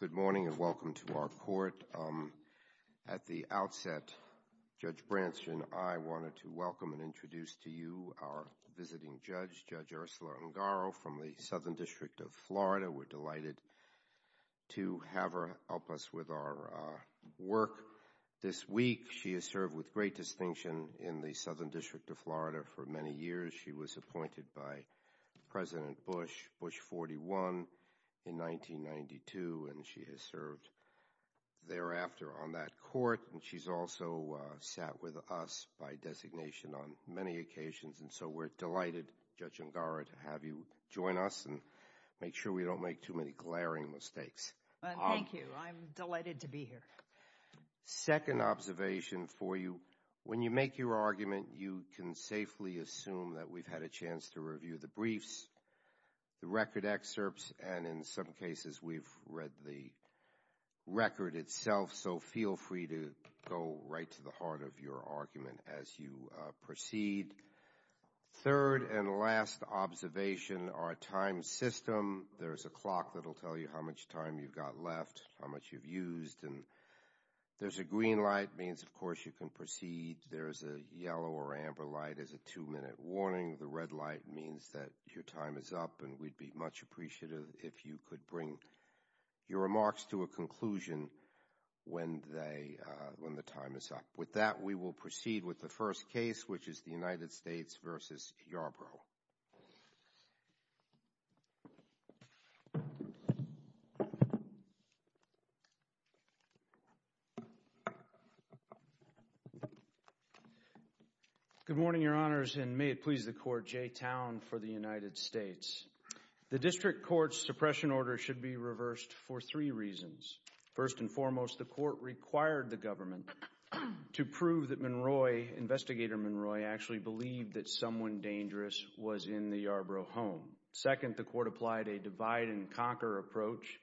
Good morning and welcome to our court. At the outset, Judge Branson, I wanted to welcome and introduce to you our visiting judge, Judge Ursula Ungaro, from the Southern District of Florida. We're delighted to have her help us with our work this week. She has served with great distinction in the Southern District of Florida for many years. She was appointed by President Bush, Bush 41, in 1992 and she has served thereafter on that court and she's also sat with us by designation on many occasions and so we're delighted, Judge Ungaro, to have you join us and make sure we don't make too many glaring mistakes. Thank you. I'm delighted to be here. Second observation for you, when you make your argument, you can safely assume that we've had a chance to review the briefs, the record excerpts, and in some cases we've read the record itself, so feel free to go right to the heart of your argument as you proceed. Third and last observation, our time system. There's a clock that'll tell you how much time you've got left, how much you've used, and there's a green light, means of course you can proceed. There's a yellow or amber light as a two-minute warning. The red light means that your time is up and we'd be much appreciative if you could bring your remarks to a conclusion when the time is up. With that, we will proceed with the first case, which is the United States v. Yarbrough. Good morning, Your Honors, and may it please the Court, Jay Towne for the United States. The District Court's suppression order should be reversed for three reasons. First and foremost, the Court required the government to prove that Monroe, Investigator Monroe, actually believed that someone dangerous was in the Yarbrough home. Second, the Court applied a divide-and-conquer approach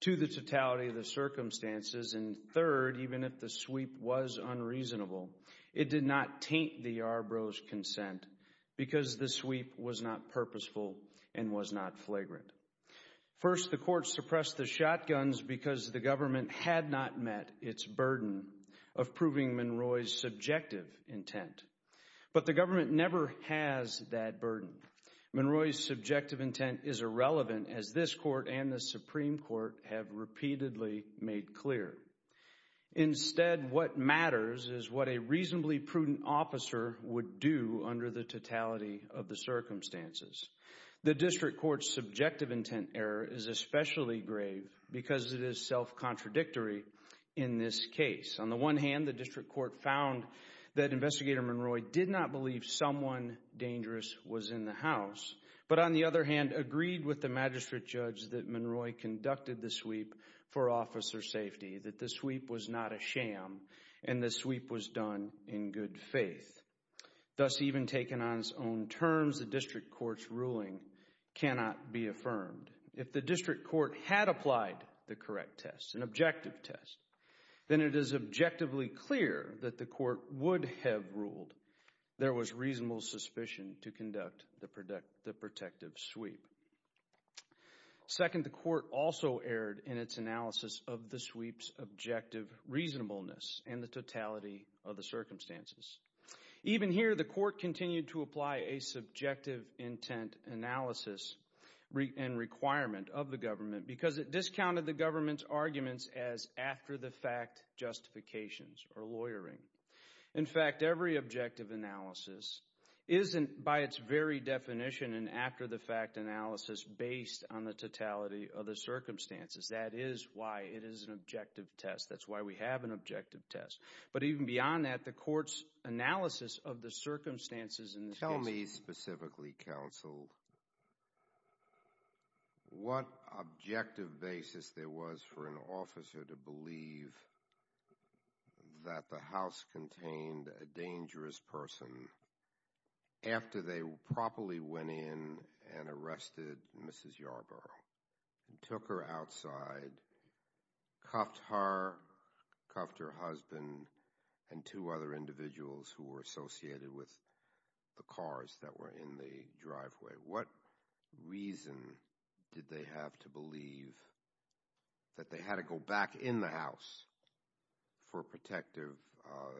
to the totality of the circumstances. And third, even if the sweep was unreasonable, it did not taint the Yarbrough's consent because the sweep was not purposeful and was not flagrant. First, the Court suppressed the shotguns because the government had not met its burden of proving Monroe's subjective intent. But the government never has that burden. Monroe's subjective intent is irrelevant, as this Court and the Supreme Court have repeatedly made clear. Instead, what matters is what a reasonably prudent officer would do under the totality of the circumstances. The District Court's ruling is self-contradictory in this case. On the one hand, the District Court found that Investigator Monroe did not believe someone dangerous was in the house, but on the other hand agreed with the Magistrate Judge that Monroe conducted the sweep for officer safety, that the sweep was not a sham, and the sweep was done in good faith. Thus, even taken on its own terms, the District Court's ruling cannot be affirmed. If the District Court had applied the correct test, an objective test, then it is objectively clear that the Court would have ruled there was reasonable suspicion to conduct the protective sweep. Second, the Court also erred in its analysis of the sweep's objective reasonableness and the totality of the circumstances. Even here, the Court continued to apply a subjective intent analysis and requirement of the government because it discounted the government's arguments as after-the-fact justifications or lawyering. In fact, every objective analysis isn't, by its very definition, an after-the-fact analysis based on the totality of the circumstances. That is why it is an objective test. That's why we have an objective test. But even beyond that, the Court's analysis of the circumstances in this case... Tell me specifically, Counsel, what objective basis there was for an officer to believe that the house contained a dangerous person after they properly went in and arrested Mrs. Yarborough and took her outside, cuffed her, cuffed her husband, and took her outside. Two other individuals who were associated with the cars that were in the driveway. What reason did they have to believe that they had to go back in the house for a protective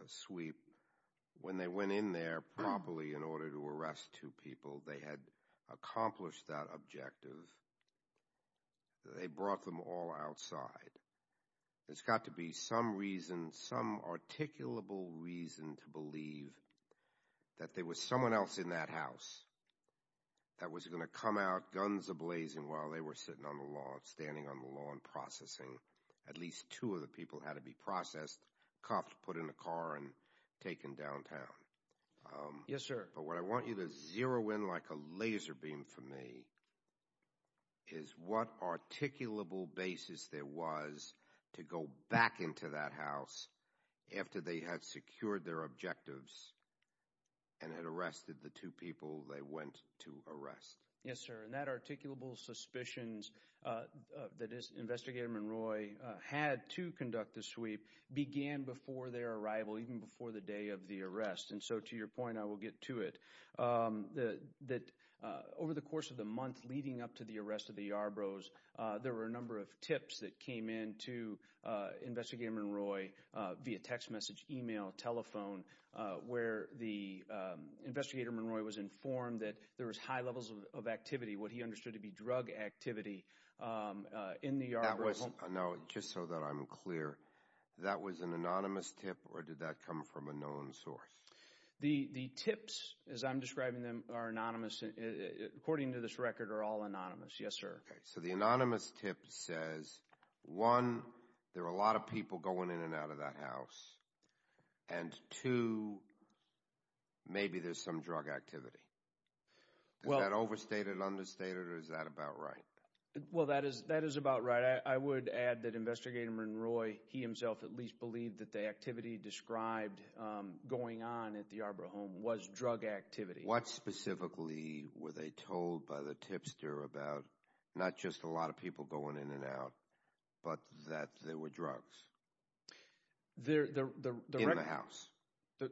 sweep when they went in there properly in order to arrest two people? They had accomplished that objective. They brought them all outside. There's got to be some reason, some articulable reason to believe that there was someone else in that house that was going to come out, guns a-blazing, while they were sitting on the lawn, standing on the lawn, processing. At least two of the people had to be processed, cuffed, put in a car, and taken downtown. Yes, sir. But what I want you to zero in like a laser beam for me is what articulable basis there was for the two people who had secured their objectives and had arrested the two people they went to arrest. Yes, sir. And that articulable suspicions that Investigator Monroy had to conduct the sweep began before their arrival, even before the day of the arrest. And so to your point, I will get to it. Over the course of the month leading up to the arrest of the Yarboroughs, there were a number of tips that came in to Investigator Monroy via text message, email, telephone, where the Investigator Monroy was informed that there was high levels of activity, what he understood to be drug activity, in the Yarborough home. Now, just so that I'm clear, that was an anonymous tip or did that come from a known source? The tips, as I'm describing them, are anonymous. According to this record, are all anonymous. Yes, sir. So the anonymous tip says, one, there are a lot of people going in and out of that house, and two, maybe there's some drug activity. Is that overstated, understated, or is that about right? Well, that is about right. I would add that Investigator Monroy, he himself at least believed that the activity described going on at the Yarborough home was drug activity. What specifically were they told by the tipster about, not just a lot of people going in and out, but that there were drugs in the house?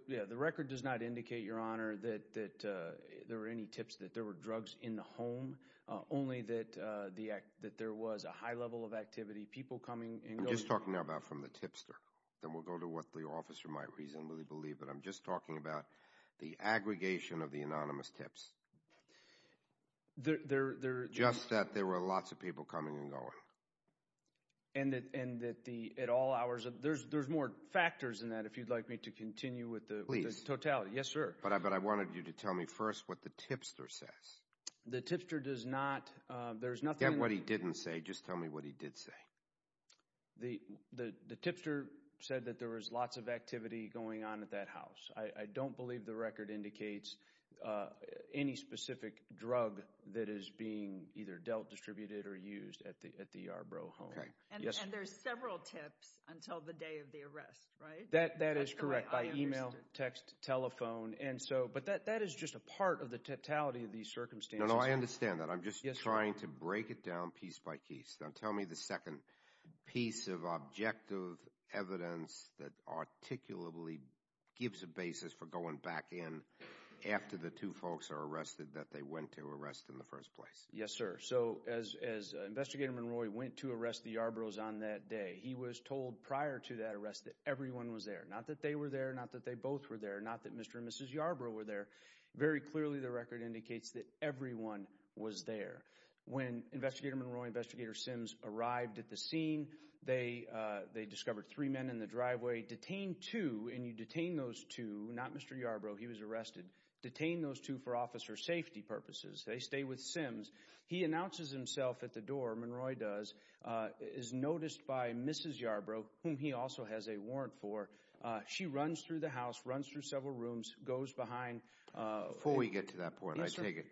The record does not indicate, Your Honor, that there were any tips that there were drugs in the home, only that there was a high level of activity, people coming and going. I'm just talking about from the tipster. Then we'll go to what the officer might reasonably believe, but I'm just talking about the aggregation of the anonymous tips. Just that there were lots of people coming and going. And that at all hours, there's more factors than that, if you'd like me to continue with the totality. Please. Yes, sir. But I wanted you to tell me first what the tipster says. The tipster does not, there's nothing... Forget what he didn't say, just tell me what he did say. The tipster said that there was lots of activity going on at that house. I don't believe the record indicates any specific drug that is being either dealt, distributed, or used at the Yarborough home. And there's several tips until the day of the arrest, right? That is correct, by email, text, telephone. But that is just a part of the totality of these circumstances. No, no, I understand that. I'm just trying to break it down piece by piece. Now tell me the second piece of objective evidence that articulably gives a basis for going back in after the two folks are arrested that they went to arrest in the first place. Yes, sir. So as Investigator Monroy went to arrest the Yarboroughs on that day, he was told prior to that arrest that everyone was there. Not that they were there, not that they both were there, not that Mr. and Mrs. Yarborough were there. Very clearly, the record indicates that everyone was there. When Investigator Monroy and Investigator Sims arrived at the scene, they discovered three men in the driveway. Detained two, and you detain those two, not Mr. Yarborough, he was arrested. Detained those two for officer safety purposes. They stay with Sims. He announces himself at the door, Monroy does, is noticed by Mrs. Yarborough, whom he also has a warrant for. She runs through the house, runs through several rooms, goes behind. Before we get to that point, I take it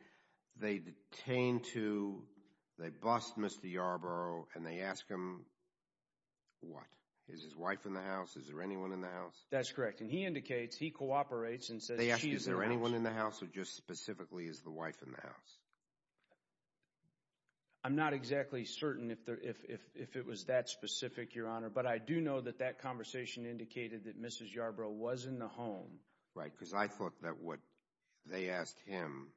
they detain two, they bust Mr. Yarborough, and they ask him what? Is his wife in the house? Is there anyone in the house? That's correct. And he indicates, he cooperates and says she is in the house. They ask is there anyone in the house or just specifically is the wife in the house? I'm not exactly certain if it was that specific, Your Honor, but I do know that that conversation indicated that Mrs. Yarborough was in the home. Right, because I thought that what they asked him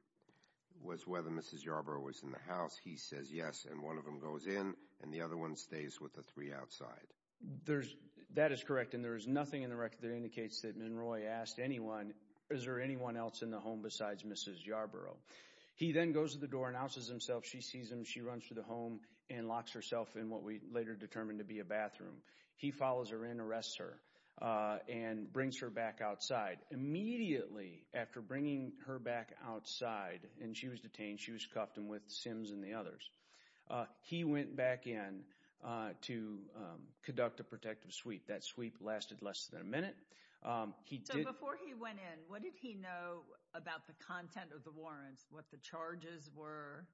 was whether Mrs. Yarborough was in the house. He says yes, and one of them goes in, and the other one stays with the three outside. That is correct, and there is nothing in the record that indicates that Monroy asked anyone is there anyone else in the home besides Mrs. Yarborough. He then goes to the door, announces himself. She sees him. She runs to the home and locks herself in what we later determined to be a bathroom. He follows her in, arrests her, and brings her back outside. Immediately after bringing her back outside, and she was detained, she was cuffed with Sims and the others. He went back in to conduct a protective sweep. That sweep lasted less than a minute. So before he went in, what did he know about the content of the warrants, what the charges were?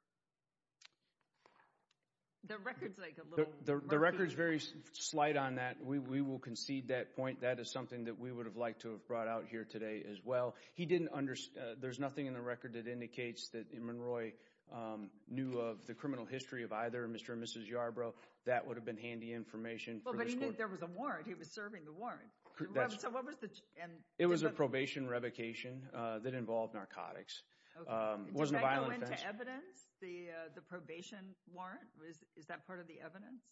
The record is like a little murky. The record is very slight on that. We will concede that point. That is something that we would have liked to have brought out here today as well. There is nothing in the record that indicates that Monroy knew of the criminal history of either Mr. or Mrs. Yarborough. That would have been handy information for this court. But he knew there was a warrant. He was serving the warrant. It was a probation revocation that involved narcotics. Did that go into evidence, the probation warrant? Is that part of the evidence?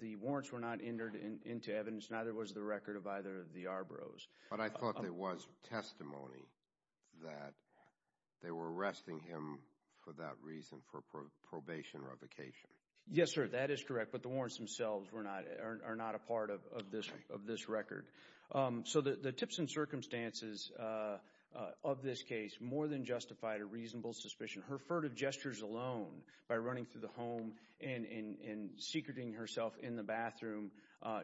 The warrants were not entered into evidence. Neither was the record of either of the Yarboroughs. But I thought there was testimony that they were arresting him for that reason, for probation revocation. Yes, sir. That is correct. But the warrants themselves are not a part of this record. So the tips and circumstances of this case more than justified a reasonable suspicion. Her furtive gestures alone by running through the home and secreting herself in the bathroom,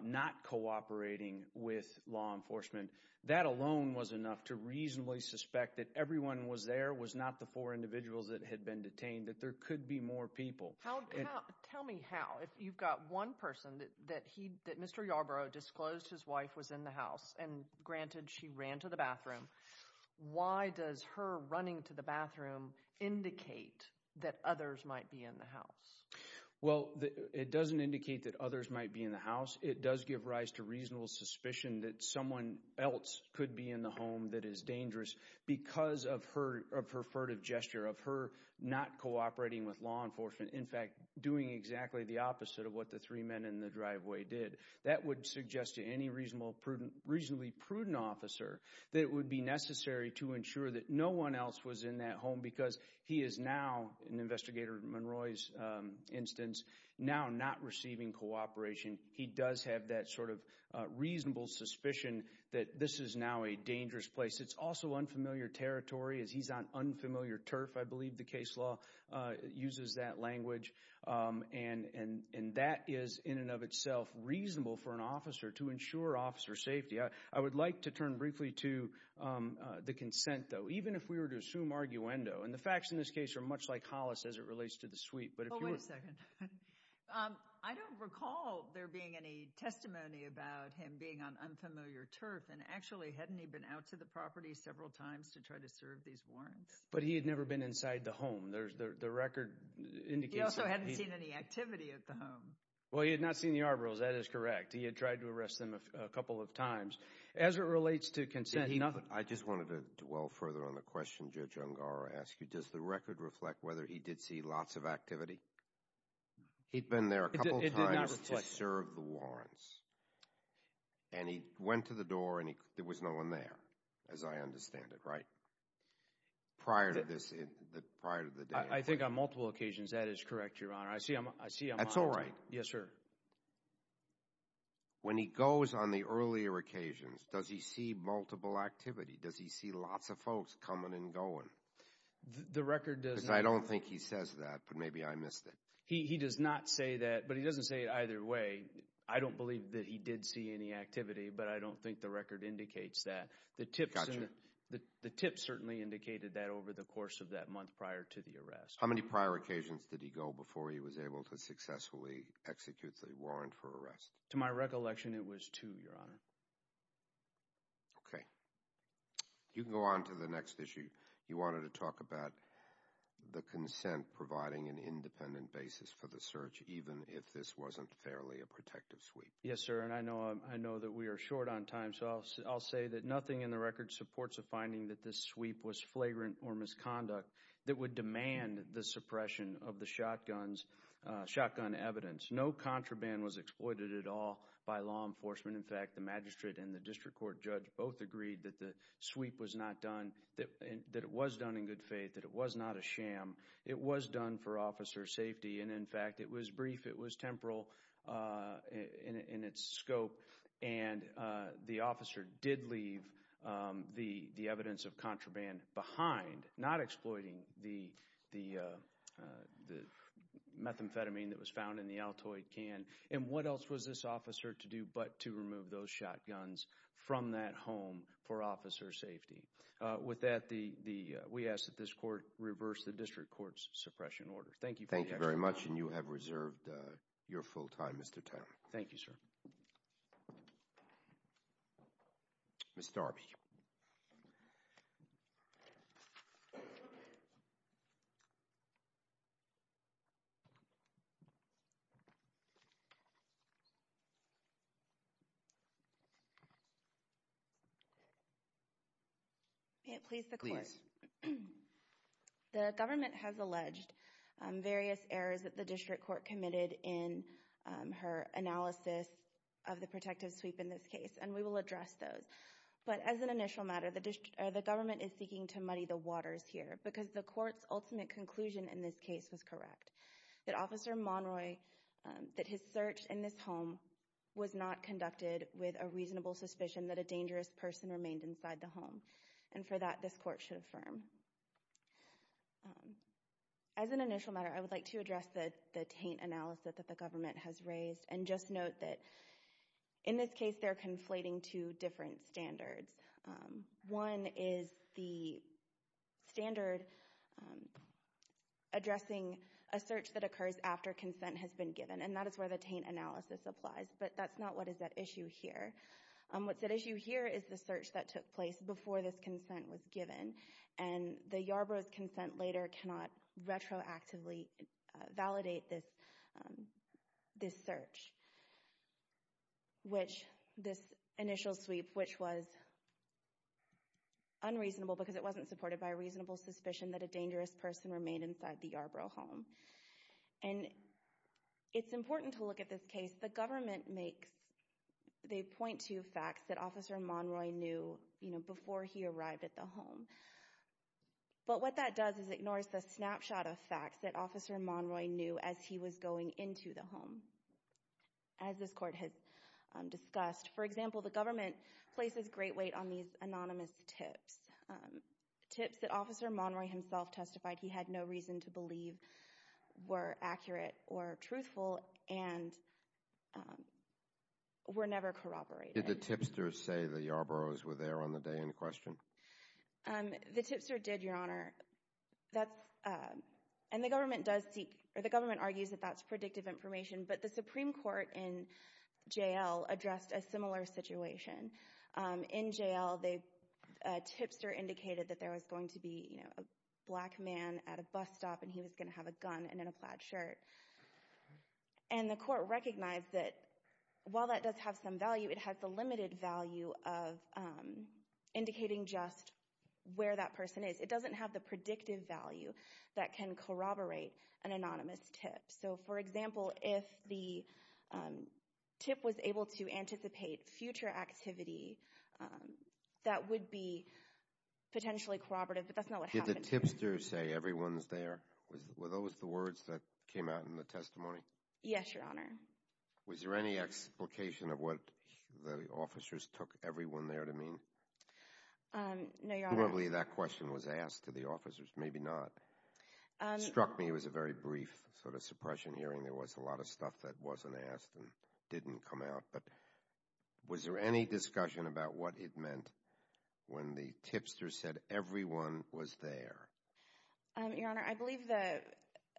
not cooperating with law enforcement, that alone was enough to reasonably suspect that everyone was there, was not the four individuals that had been detained, that there could be more people. Tell me how. If you've got one person that Mr. Yarborough disclosed his wife was in the house and, granted, she ran to the bathroom, why does her running to the bathroom indicate that others might be in the house? Well, it doesn't indicate that others might be in the house. It does give rise to reasonable suspicion that someone else could be in the home that is dangerous because of her furtive gesture, of her not cooperating with law enforcement, in fact, doing exactly the opposite of what the three men in the driveway did. That would suggest to any reasonably prudent officer that it would be necessary to ensure that no one else was in that home because he is now, in Investigator Monroy's instance, now not receiving cooperation. He does have that sort of reasonable suspicion that this is now a dangerous place. It's also unfamiliar territory. He's on unfamiliar turf, I believe the case law uses that language. And that is, in and of itself, reasonable for an officer to ensure officer safety. I would like to turn briefly to the consent, though, even if we were to assume arguendo. And the facts in this case are much like Hollis as it relates to the suite. But if you were— Oh, wait a second. I don't recall there being any testimony about him being on unfamiliar turf. And, actually, hadn't he been out to the property several times to try to serve these warrants? But he had never been inside the home. The record indicates that he— He also hadn't seen any activity at the home. Well, he had not seen the Arborals. That is correct. He had tried to arrest them a couple of times. As it relates to consent— I just wanted to dwell further on the question Judge Ungar asked you. Does the record reflect whether he did see lots of activity? He'd been there a couple of times to serve the warrants. And he went to the door, and there was no one there, as I understand it, right? Prior to this—prior to the day. I think on multiple occasions. That is correct, Your Honor. I see I'm— That's all right. Yes, sir. When he goes on the earlier occasions, does he see multiple activity? Does he see lots of folks coming and going? The record does not— Because I don't think he says that, but maybe I missed it. He does not say that, but he doesn't say it either way. I don't believe that he did see any activity, but I don't think the record indicates that. The tips certainly indicated that over the course of that month prior to the arrest. How many prior occasions did he go before he was able to successfully execute the warrant for arrest? To my recollection, it was two, Your Honor. Okay. You can go on to the next issue. You wanted to talk about the consent providing an independent basis for the search, even if this wasn't fairly a protective sweep. Yes, sir, and I know that we are short on time, so I'll say that nothing in the record supports a finding that this sweep was flagrant or misconduct that would demand the suppression of the shotgun evidence. No contraband was exploited at all by law enforcement. In fact, the magistrate and the district court judge both agreed that the sweep was not done, that it was done in good faith, that it was not a sham. It was done for officer safety, and, in fact, it was brief, it was temporal in its scope, and the officer did leave the evidence of contraband behind, not exploiting the methamphetamine that was found in the Altoid can. And what else was this officer to do but to remove those shotguns from that home for officer safety? With that, we ask that this court reverse the district court's suppression order. Thank you for your time. Thank you very much, and you have reserved your full time, Mr. Turner. Thank you, sir. Ms. Darby. May it please the Court. Please. The government has alleged various errors that the district court committed in her analysis of the protective sweep in this case, and we will address those. But as an initial matter, the government is seeking to muddy the waters here because the court's ultimate conclusion in this case was correct, that Officer Monroy, that his search in this home was not conducted with a reasonable suspicion that a dangerous person remained inside the home, and for that this court should affirm. As an initial matter, I would like to address the taint analysis that the government has raised and just note that in this case they're conflating two different standards. One is the standard addressing a search that occurs after consent has been given, and that is where the taint analysis applies, but that's not what is at issue here. What's at issue here is the search that took place before this consent was given, and the Yarborough's consent later cannot retroactively validate this search, this initial sweep, which was unreasonable because it wasn't supported by a reasonable suspicion that a dangerous person remained inside the Yarborough home. It's important to look at this case. The government makes the point to facts that Officer Monroy knew before he arrived at the home, but what that does is ignores the snapshot of facts that Officer Monroy knew as he was going into the home. As this court has discussed, for example, the government places great weight on these anonymous tips, tips that Officer Monroy himself testified he had no reason to believe were accurate or truthful and were never corroborated. Did the tipsters say the Yarborough's were there on the day in question? The tipster did, Your Honor, and the government argues that that's predictive information, but the Supreme Court in J.L. addressed a similar situation. In J.L., a tipster indicated that there was going to be a black man at a bus stop and he was going to have a gun and a plaid shirt. And the court recognized that while that does have some value, it has the limited value of indicating just where that person is. It doesn't have the predictive value that can corroborate an anonymous tip. So, for example, if the tip was able to anticipate future activity, that would be potentially corroborative, but that's not what happened. Did the tipster say everyone's there? Were those the words that came out in the testimony? Yes, Your Honor. Was there any explication of what the officers took everyone there to mean? No, Your Honor. Probably that question was asked to the officers, maybe not. It struck me it was a very brief sort of suppression hearing. There was a lot of stuff that wasn't asked and didn't come out. But was there any discussion about what it meant when the tipster said everyone was there? Your Honor, I believe that,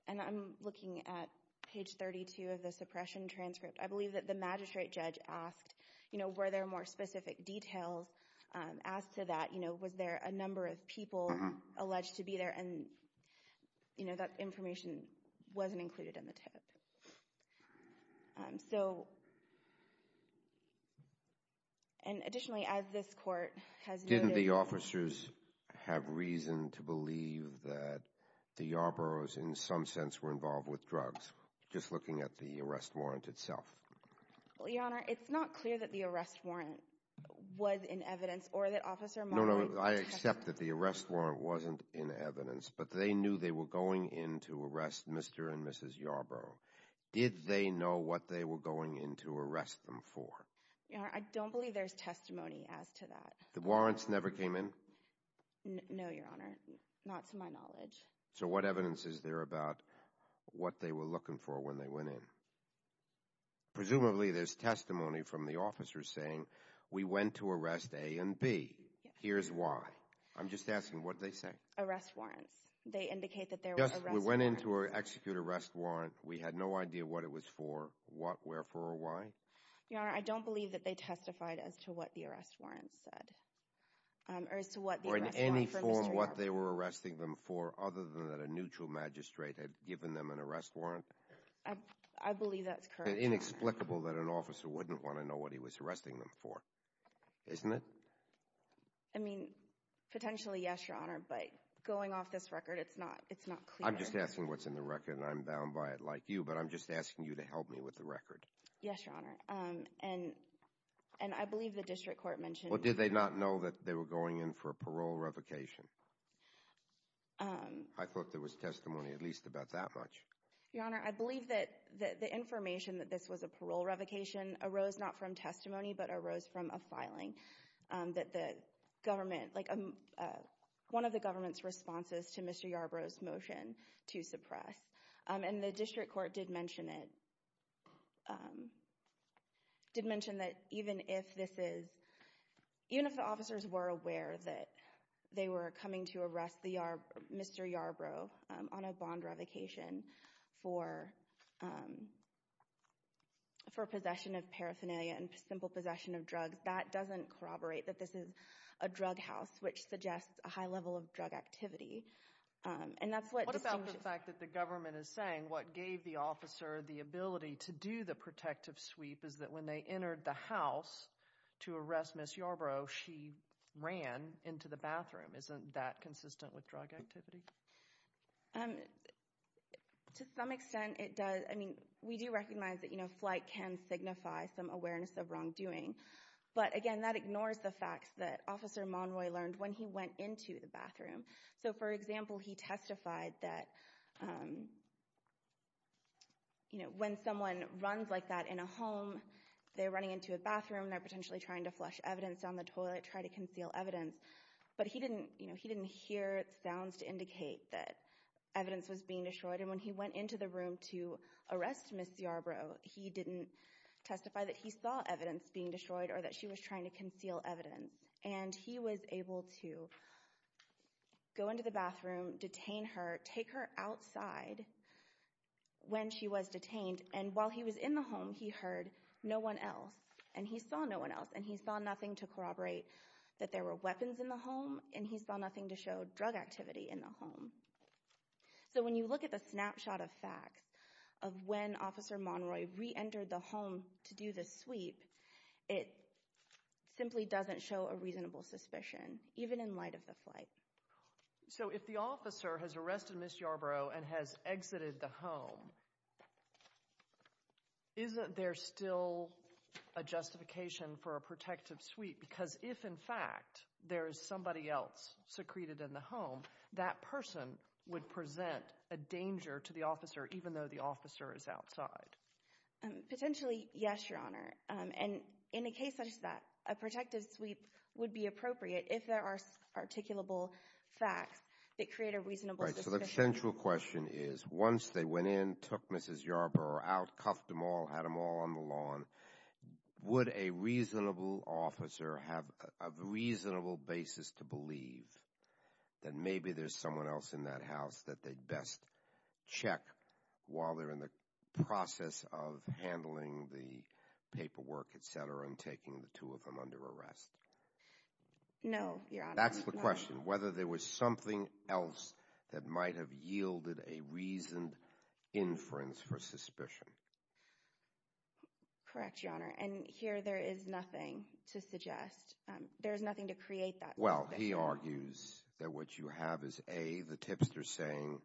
and I'm looking at page 32 of the suppression transcript, I believe that the magistrate judge asked, you know, were there more specific details, asked to that, you know, was there a number of people alleged to be there, and, you know, that information wasn't included in the tip. So, and additionally, as this court has noted— Didn't the officers have reason to believe that the Yarboroughs, in some sense, were involved with drugs, just looking at the arrest warrant itself? Well, Your Honor, it's not clear that the arrest warrant was in evidence or that Officer Molloy— No, no, I accept that the arrest warrant wasn't in evidence, but they knew they were going in to arrest Mr. and Mrs. Yarborough. Did they know what they were going in to arrest them for? Your Honor, I don't believe there's testimony as to that. The warrants never came in? No, Your Honor, not to my knowledge. So what evidence is there about what they were looking for when they went in? Presumably there's testimony from the officers saying we went to arrest A and B. Here's why. I'm just asking, what did they say? Arrest warrants. They indicate that there were arrest warrants. We went in to execute an arrest warrant. We had no idea what it was for, what, wherefore, or why? Your Honor, I don't believe that they testified as to what the arrest warrants said. Or in any form what they were arresting them for, other than that a neutral magistrate had given them an arrest warrant? I believe that's correct, Your Honor. It's inexplicable that an officer wouldn't want to know what he was arresting them for, isn't it? I mean, potentially yes, Your Honor, but going off this record, it's not clear. I'm just asking what's in the record, and I'm bound by it like you, but I'm just asking you to help me with the record. Yes, Your Honor, and I believe the district court mentioned— Well, did they not know that they were going in for a parole revocation? I thought there was testimony at least about that much. Your Honor, I believe that the information that this was a parole revocation arose not from testimony but arose from a filing that the government, like one of the government's responses to Mr. Yarbrough's motion to suppress. And the district court did mention it, did mention that even if this is— even if the officers were aware that they were coming to arrest Mr. Yarbrough on a bond revocation for possession of paraphernalia and simple possession of drugs, that doesn't corroborate that this is a drug house which suggests a high level of drug activity. And that's what— What about the fact that the government is saying what gave the officer the ability to do the protective sweep is that when they entered the house to arrest Ms. Yarbrough, she ran into the bathroom. Isn't that consistent with drug activity? To some extent it does. I mean, we do recognize that flight can signify some awareness of wrongdoing. But again, that ignores the facts that Officer Monroy learned when he went into the bathroom. So, for example, he testified that when someone runs like that in a home, they're running into a bathroom, they're potentially trying to flush evidence down the toilet, trying to conceal evidence. But he didn't hear sounds to indicate that evidence was being destroyed. And when he went into the room to arrest Ms. Yarbrough, he didn't testify that he saw evidence being destroyed or that she was trying to conceal evidence. And he was able to go into the bathroom, detain her, take her outside when she was detained. And while he was in the home, he heard no one else. And he saw no one else. And he saw nothing to corroborate that there were weapons in the home. And he saw nothing to show drug activity in the home. So when you look at the snapshot of facts of when Officer Monroy reentered the home to do the sweep, it simply doesn't show a reasonable suspicion, even in light of the flight. So if the officer has arrested Ms. Yarbrough and has exited the home, isn't there still a justification for a protective sweep? Because if, in fact, there is somebody else secreted in the home, that person would present a danger to the officer, even though the officer is outside. Potentially, yes, Your Honor. And in a case such as that, a protective sweep would be appropriate if there are articulable facts that create a reasonable suspicion. All right. So the central question is, once they went in, took Mrs. Yarbrough out, cuffed them all, had them all on the lawn, would a reasonable officer have a reasonable basis to believe that maybe there's someone else in that house that they'd best check while they're in the process of handling the paperwork, et cetera, and taking the two of them under arrest? No, Your Honor. That's the question, whether there was something else that might have yielded a reasoned inference for suspicion. Correct, Your Honor. And here there is nothing to suggest. There is nothing to create that. Well, he argues that what you have is, A, the tipster saying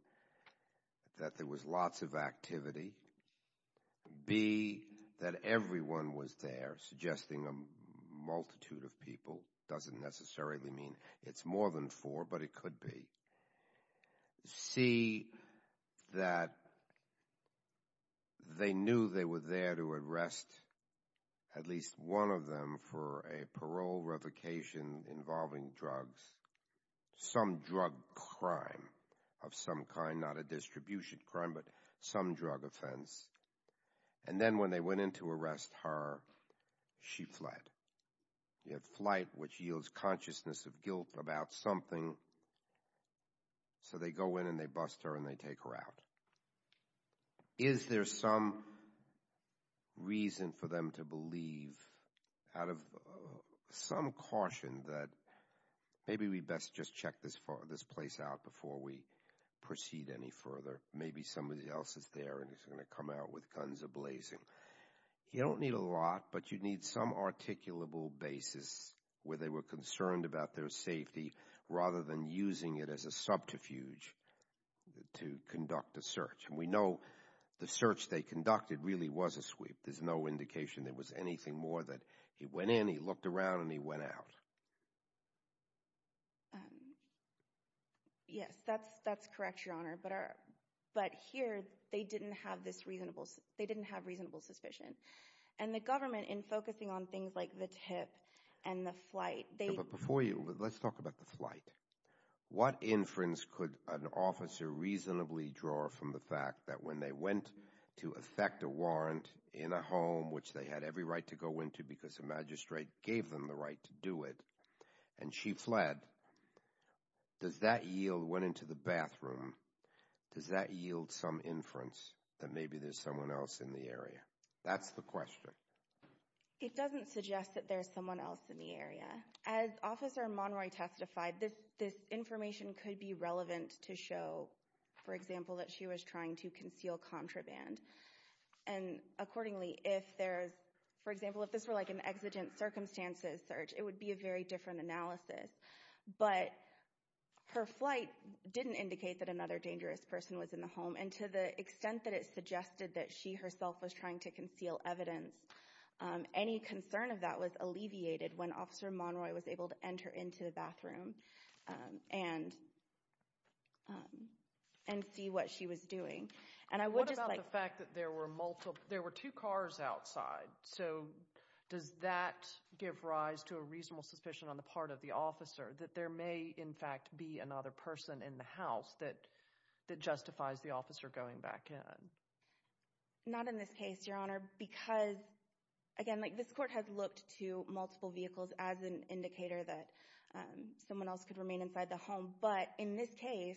that there was lots of activity. B, that everyone was there, suggesting a multitude of people. Doesn't necessarily mean it's more than four, but it could be. C, that they knew they were there to arrest at least one of them for a parole revocation involving drugs, some drug crime of some kind, not a distribution crime, but some drug offense. And then when they went in to arrest her, she fled. You have flight, which yields consciousness of guilt about something. So they go in and they bust her and they take her out. Is there some reason for them to believe, out of some caution, that maybe we'd best just check this place out before we proceed any further? Maybe somebody else is there and is going to come out with guns a-blazing. You don't need a lot, but you need some articulable basis where they were concerned about their safety rather than using it as a subterfuge to conduct a search. And we know the search they conducted really was a sweep. There's no indication there was anything more than he went in, he looked around, and he went out. Yes, that's correct, Your Honor. But here, they didn't have reasonable suspicion. And the government, in focusing on things like the tip and the flight— But before you—let's talk about the flight. What inference could an officer reasonably draw from the fact that when they went to effect a warrant in a home, which they had every right to go into because the magistrate gave them the right to do it, and she fled, does that yield—went into the bathroom—does that yield some inference that maybe there's someone else in the area? That's the question. It doesn't suggest that there's someone else in the area. As Officer Monroy testified, this information could be relevant to show, for example, that she was trying to conceal contraband. And accordingly, if there's—for example, if this were like an exigent circumstances search, it would be a very different analysis. But her flight didn't indicate that another dangerous person was in the home, and to the extent that it suggested that she herself was trying to conceal evidence, any concern of that was alleviated when Officer Monroy was able to enter into the bathroom and see what she was doing. And I would just like— What about the fact that there were two cars outside? So does that give rise to a reasonable suspicion on the part of the officer that there may, in fact, be another person in the house that justifies the officer going back in? Not in this case, Your Honor, because, again, like this court has looked to multiple vehicles as an indicator that someone else could remain inside the home. But in this case,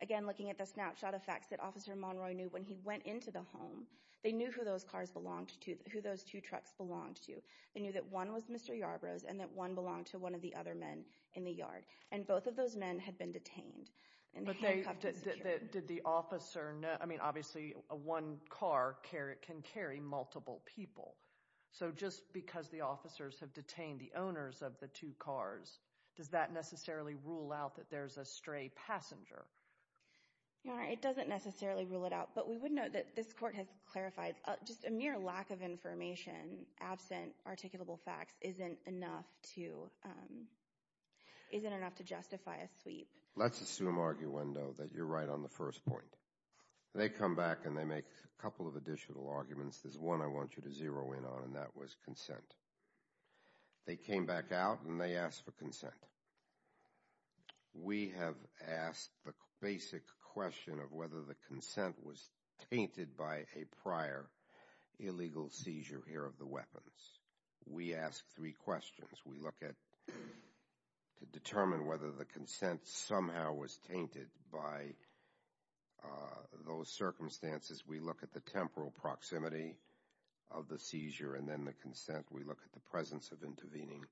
again, looking at the snapshot effects that Officer Monroy knew when he went into the home, they knew who those cars belonged to, who those two trucks belonged to. They knew that one was Mr. Yarbrough's and that one belonged to one of the other men in the yard. And both of those men had been detained. But did the officer—I mean, obviously, one car can carry multiple people. So just because the officers have detained the owners of the two cars, does that necessarily rule out that there's a stray passenger? Your Honor, it doesn't necessarily rule it out. But we would note that this court has clarified just a mere lack of information, absent articulable facts, isn't enough to justify a sweep. Let's assume, arguendo, that you're right on the first point. They come back and they make a couple of additional arguments. There's one I want you to zero in on, and that was consent. They came back out and they asked for consent. We have asked the basic question of whether the consent was tainted by a prior illegal seizure here of the weapons. We ask three questions. We look at to determine whether the consent somehow was tainted by those circumstances. We look at the temporal proximity of the seizure and then the consent. We look at the presence of intervening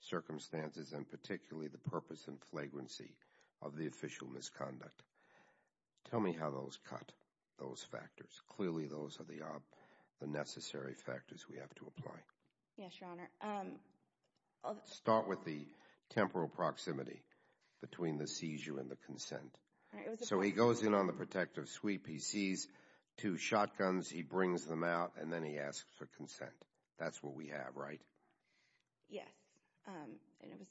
circumstances, and particularly the purpose and flagrancy of the official misconduct. Tell me how those cut, those factors. Clearly those are the necessary factors we have to apply. Yes, Your Honor. Start with the temporal proximity between the seizure and the consent. So he goes in on the protective sweep. He sees two shotguns. He brings them out, and then he asks for consent. That's what we have, right? Yes, and it was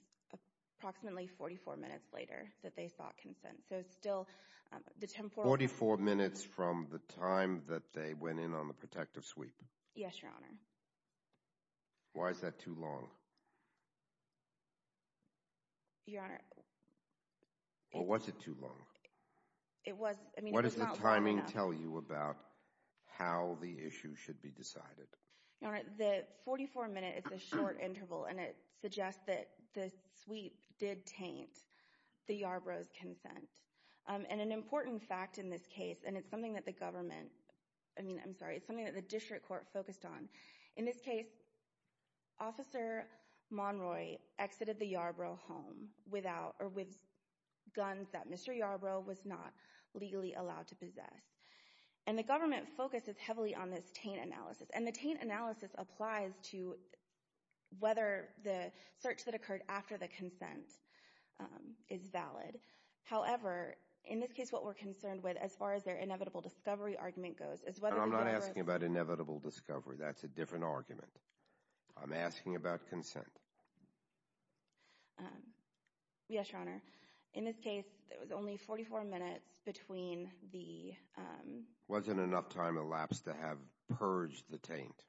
approximately 44 minutes later that they sought consent. So it's still the temporal— Forty-four minutes from the time that they went in on the protective sweep? Yes, Your Honor. Why is that too long? Your Honor— Or was it too long? It was— What does the timing tell you about how the issue should be decided? Your Honor, the 44 minutes is a short interval, and it suggests that the sweep did taint the Yarbrough's consent. And an important fact in this case, and it's something that the government— I mean, I'm sorry, it's something that the district court focused on. In this case, Officer Monroy exited the Yarbrough home without— And the government focuses heavily on this taint analysis, and the taint analysis applies to whether the search that occurred after the consent is valid. However, in this case, what we're concerned with, as far as their inevitable discovery argument goes— I'm not asking about inevitable discovery. That's a different argument. I'm asking about consent. Yes, Your Honor. In this case, it was only 44 minutes between the— Wasn't enough time elapsed to have purged the taint.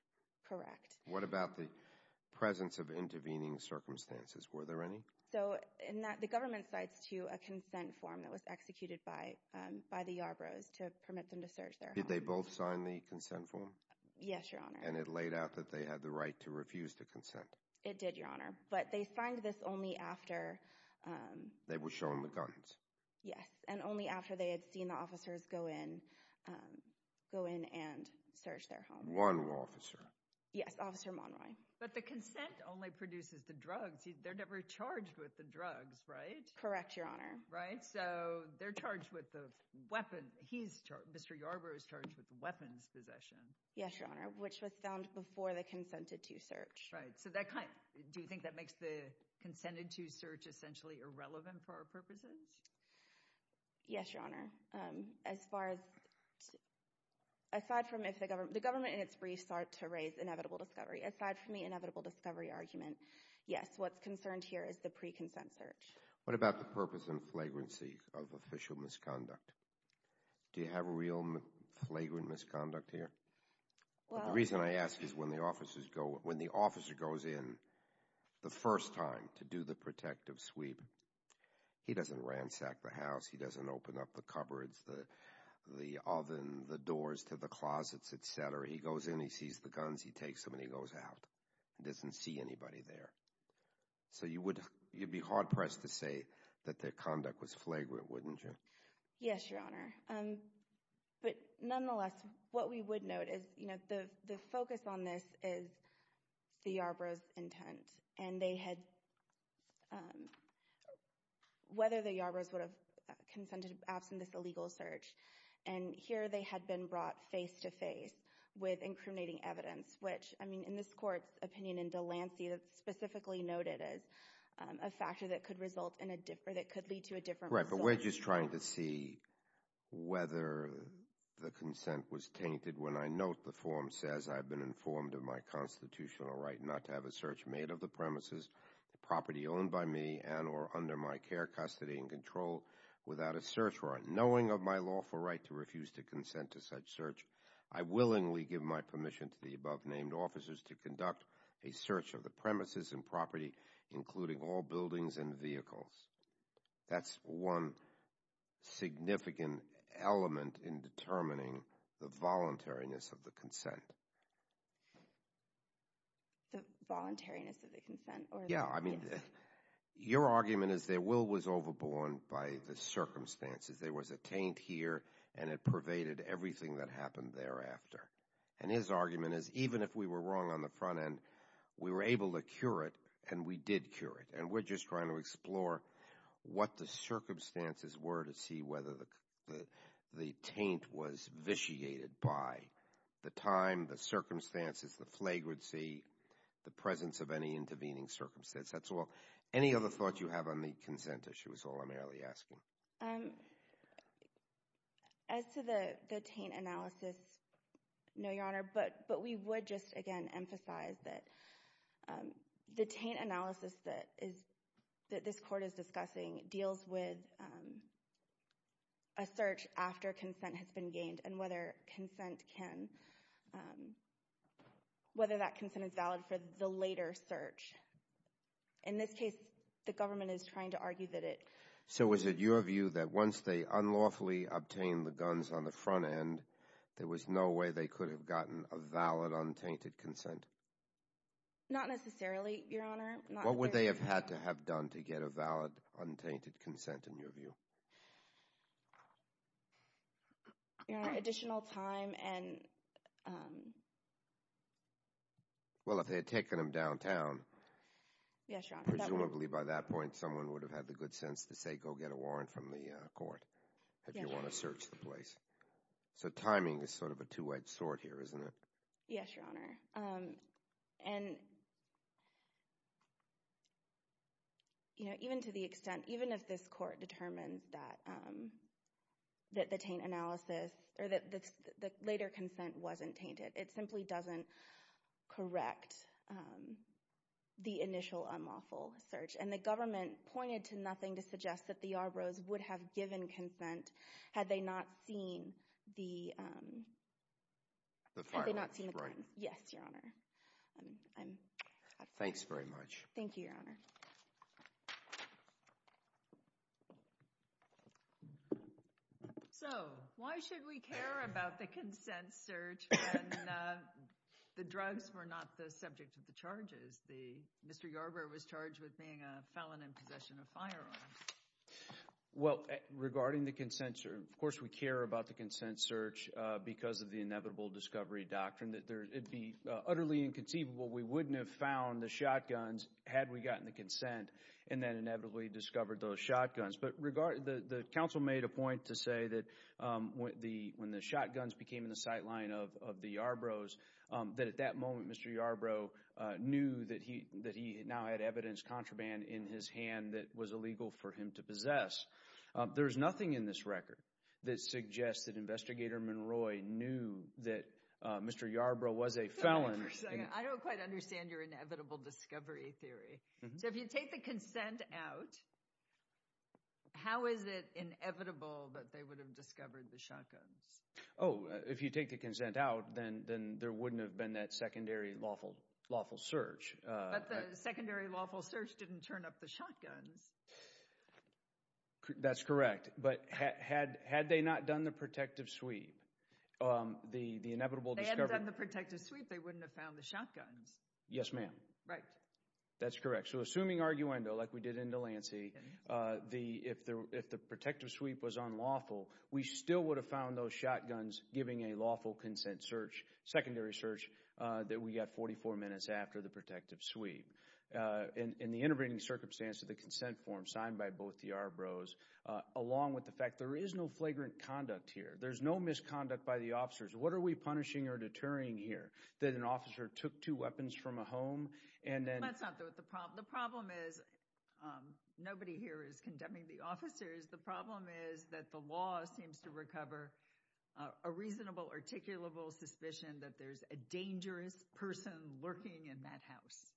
Correct. What about the presence of intervening circumstances? Were there any? So, the government cites to a consent form that was executed by the Yarbroughs to permit them to search their home. Did they both sign the consent form? Yes, Your Honor. And it laid out that they had the right to refuse to consent. It did, Your Honor. But they signed this only after— They were shown the guns. Yes, and only after they had seen the officers go in and search their home. One officer. Yes, Officer Monroy. But the consent only produces the drugs. They're never charged with the drugs, right? Correct, Your Honor. Right? So, they're charged with the weapon. Mr. Yarbrough is charged with weapons possession. Yes, Your Honor, which was found before they consented to search. Right, so that kind—do you think that makes the consented to search essentially irrelevant for our purposes? Yes, Your Honor. As far as—aside from if the government—the government in its brief sought to raise inevitable discovery. Aside from the inevitable discovery argument, yes, what's concerned here is the pre-consent search. What about the purpose and flagrancy of official misconduct? Do you have real flagrant misconduct here? Well— What I would ask is when the officers go—when the officer goes in the first time to do the protective sweep, he doesn't ransack the house, he doesn't open up the cupboards, the oven, the doors to the closets, et cetera. He goes in, he sees the guns, he takes them, and he goes out. He doesn't see anybody there. So, you would—you'd be hard-pressed to say that their conduct was flagrant, wouldn't you? Yes, Your Honor. But nonetheless, what we would note is, you know, the focus on this is the Yarbrough's intent and they had—whether the Yarbroughs would have consented absent this illegal search. And here they had been brought face-to-face with incriminating evidence, which, I mean, in this Court's opinion in Delancey, it's specifically noted as a factor that could result in a—that could lead to a different result. Right, but we're just trying to see whether the consent was tainted. When I note the form says, I've been informed of my constitutional right not to have a search made of the premises, the property owned by me, and or under my care, custody, and control, without a search warrant, knowing of my lawful right to refuse to consent to such search, I willingly give my permission to the above-named officers to conduct a search of the premises and property, including all buildings and vehicles. That's one significant element in determining the voluntariness of the consent. The voluntariness of the consent or— Yeah, I mean, your argument is their will was overborne by the circumstances. There was a taint here and it pervaded everything that happened thereafter. And his argument is even if we were wrong on the front end, we were able to cure it and we did cure it. And we're just trying to explore what the circumstances were to see whether the taint was vitiated by the time, the circumstances, the flagrancy, the presence of any intervening circumstance. That's all. Any other thoughts you have on the consent issue is all I'm really asking. As to the taint analysis, no, Your Honor, but we would just, again, emphasize that the taint analysis that this Court is discussing deals with a search after consent has been gained and whether consent can—whether that consent is valid for the later search. In this case, the government is trying to argue that it— So was it your view that once they unlawfully obtained the guns on the front end, there was no way they could have gotten a valid, untainted consent? Not necessarily, Your Honor. What would they have had to have done to get a valid, untainted consent in your view? You know, additional time and— Well, if they had taken them downtown— Yes, Your Honor. Presumably by that point, someone would have had the good sense to say, go get a warrant from the Court if you want to search the place. So timing is sort of a two-edged sword here, isn't it? Yes, Your Honor. And, you know, even to the extent—even if this Court determines that the taint analysis— or that the later consent wasn't tainted, it simply doesn't correct the initial unlawful search. And the government pointed to nothing to suggest that the Yarbroughs would have given consent had they not seen the— The firearms, right. Yes, Your Honor. Thanks very much. Thank you, Your Honor. So why should we care about the consent search when the drugs were not the subject of the charges? Mr. Yarbrough was charged with being a felon in possession of firearms. Well, regarding the consent search, of course we care about the consent search because of the inevitable discovery doctrine. It would be utterly inconceivable. We wouldn't have found the shotguns had we gotten the consent and then inevitably discovered those shotguns. But the counsel made a point to say that when the shotguns became in the sightline of the Yarbroughs, that at that moment Mr. Yarbrough knew that he now had evidence contraband in his hand that was illegal for him to possess. There is nothing in this record that suggests that Investigator Monroy knew that Mr. Yarbrough was a felon. I don't quite understand your inevitable discovery theory. So if you take the consent out, how is it inevitable that they would have discovered the shotguns? Oh, if you take the consent out, then there wouldn't have been that secondary lawful search. But the secondary lawful search didn't turn up the shotguns. That's correct. But had they not done the protective sweep, the inevitable discovery… If they hadn't done the protective sweep, they wouldn't have found the shotguns. Yes, ma'am. Right. That's correct. So assuming arguendo like we did in Delancey, if the protective sweep was unlawful, we still would have found those shotguns giving a lawful consent search, secondary search that we got 44 minutes after the protective sweep. In the intervening circumstance of the consent form signed by both the Yarbroughs, along with the fact there is no flagrant conduct here, there's no misconduct by the officers, what are we punishing or deterring here? That an officer took two weapons from a home and then… Let's not do it. The problem is nobody here is condemning the officers. The problem is that the law seems to recover a reasonable, articulable suspicion that there's a dangerous person lurking in that house.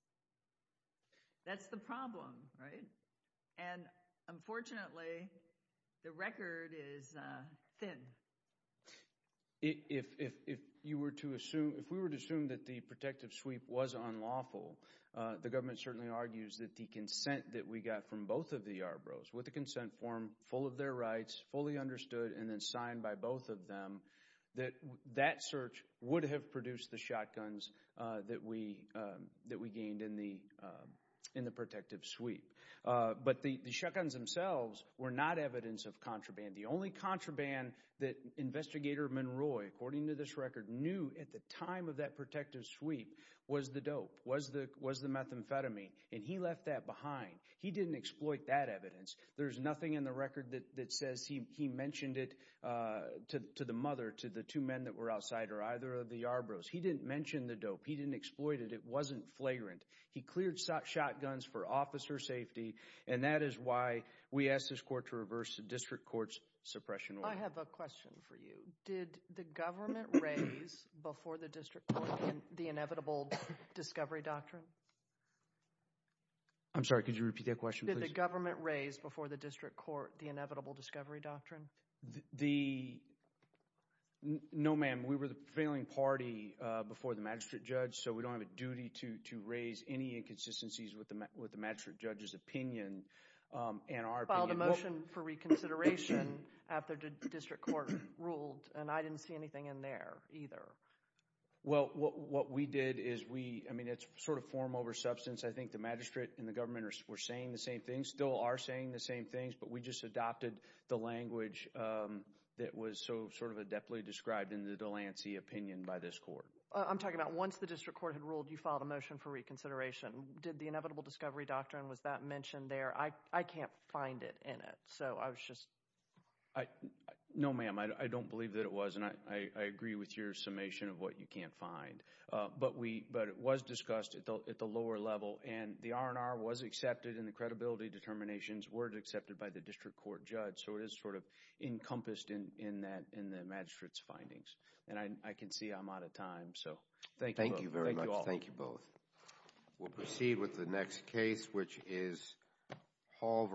That's the problem, right? And unfortunately, the record is thin. If we were to assume that the protective sweep was unlawful, the government certainly argues that the consent that we got from both of the Yarbroughs with the consent form full of their rights, fully understood, and then signed by both of them, that that search would have produced the shotguns that we gained in the protective sweep. But the shotguns themselves were not evidence of contraband. The only contraband that Investigator Monroy, according to this record, knew at the time of that protective sweep was the dope, was the methamphetamine, and he left that behind. He didn't exploit that evidence. There's nothing in the record that says he mentioned it to the mother, to the two men that were outside, or either of the Yarbroughs. He didn't mention the dope. He didn't exploit it. It wasn't flagrant. He cleared shotguns for officer safety, and that is why we asked this court to reverse the district court's suppression order. I have a question for you. Did the government raise before the district court the inevitable discovery doctrine? I'm sorry. Could you repeat that question, please? Did the government raise before the district court the inevitable discovery doctrine? No, ma'am. We were the prevailing party before the magistrate judge, so we don't have a duty to raise any inconsistencies with the magistrate judge's opinion and our opinion. We filed a motion for reconsideration after the district court ruled, and I didn't see anything in there either. Well, what we did is we—I mean, it's sort of form over substance. I think the magistrate and the government were saying the same thing, still are saying the same things, but we just adopted the language that was sort of adeptly described in the Delancey opinion by this court. I'm talking about once the district court had ruled, you filed a motion for reconsideration. Did the inevitable discovery doctrine, was that mentioned there? I can't find it in it, so I was just— No, ma'am. I don't believe that it was, and I agree with your summation of what you can't find. But we—but it was discussed at the lower level, and the R&R was accepted, and the credibility determinations were accepted by the district court judge, so it is sort of encompassed in that—in the magistrate's findings. And I can see I'm out of time, so thank you both. Thank you very much. Thank you all. We'll proceed with the next case, which is Hall v. Delancey.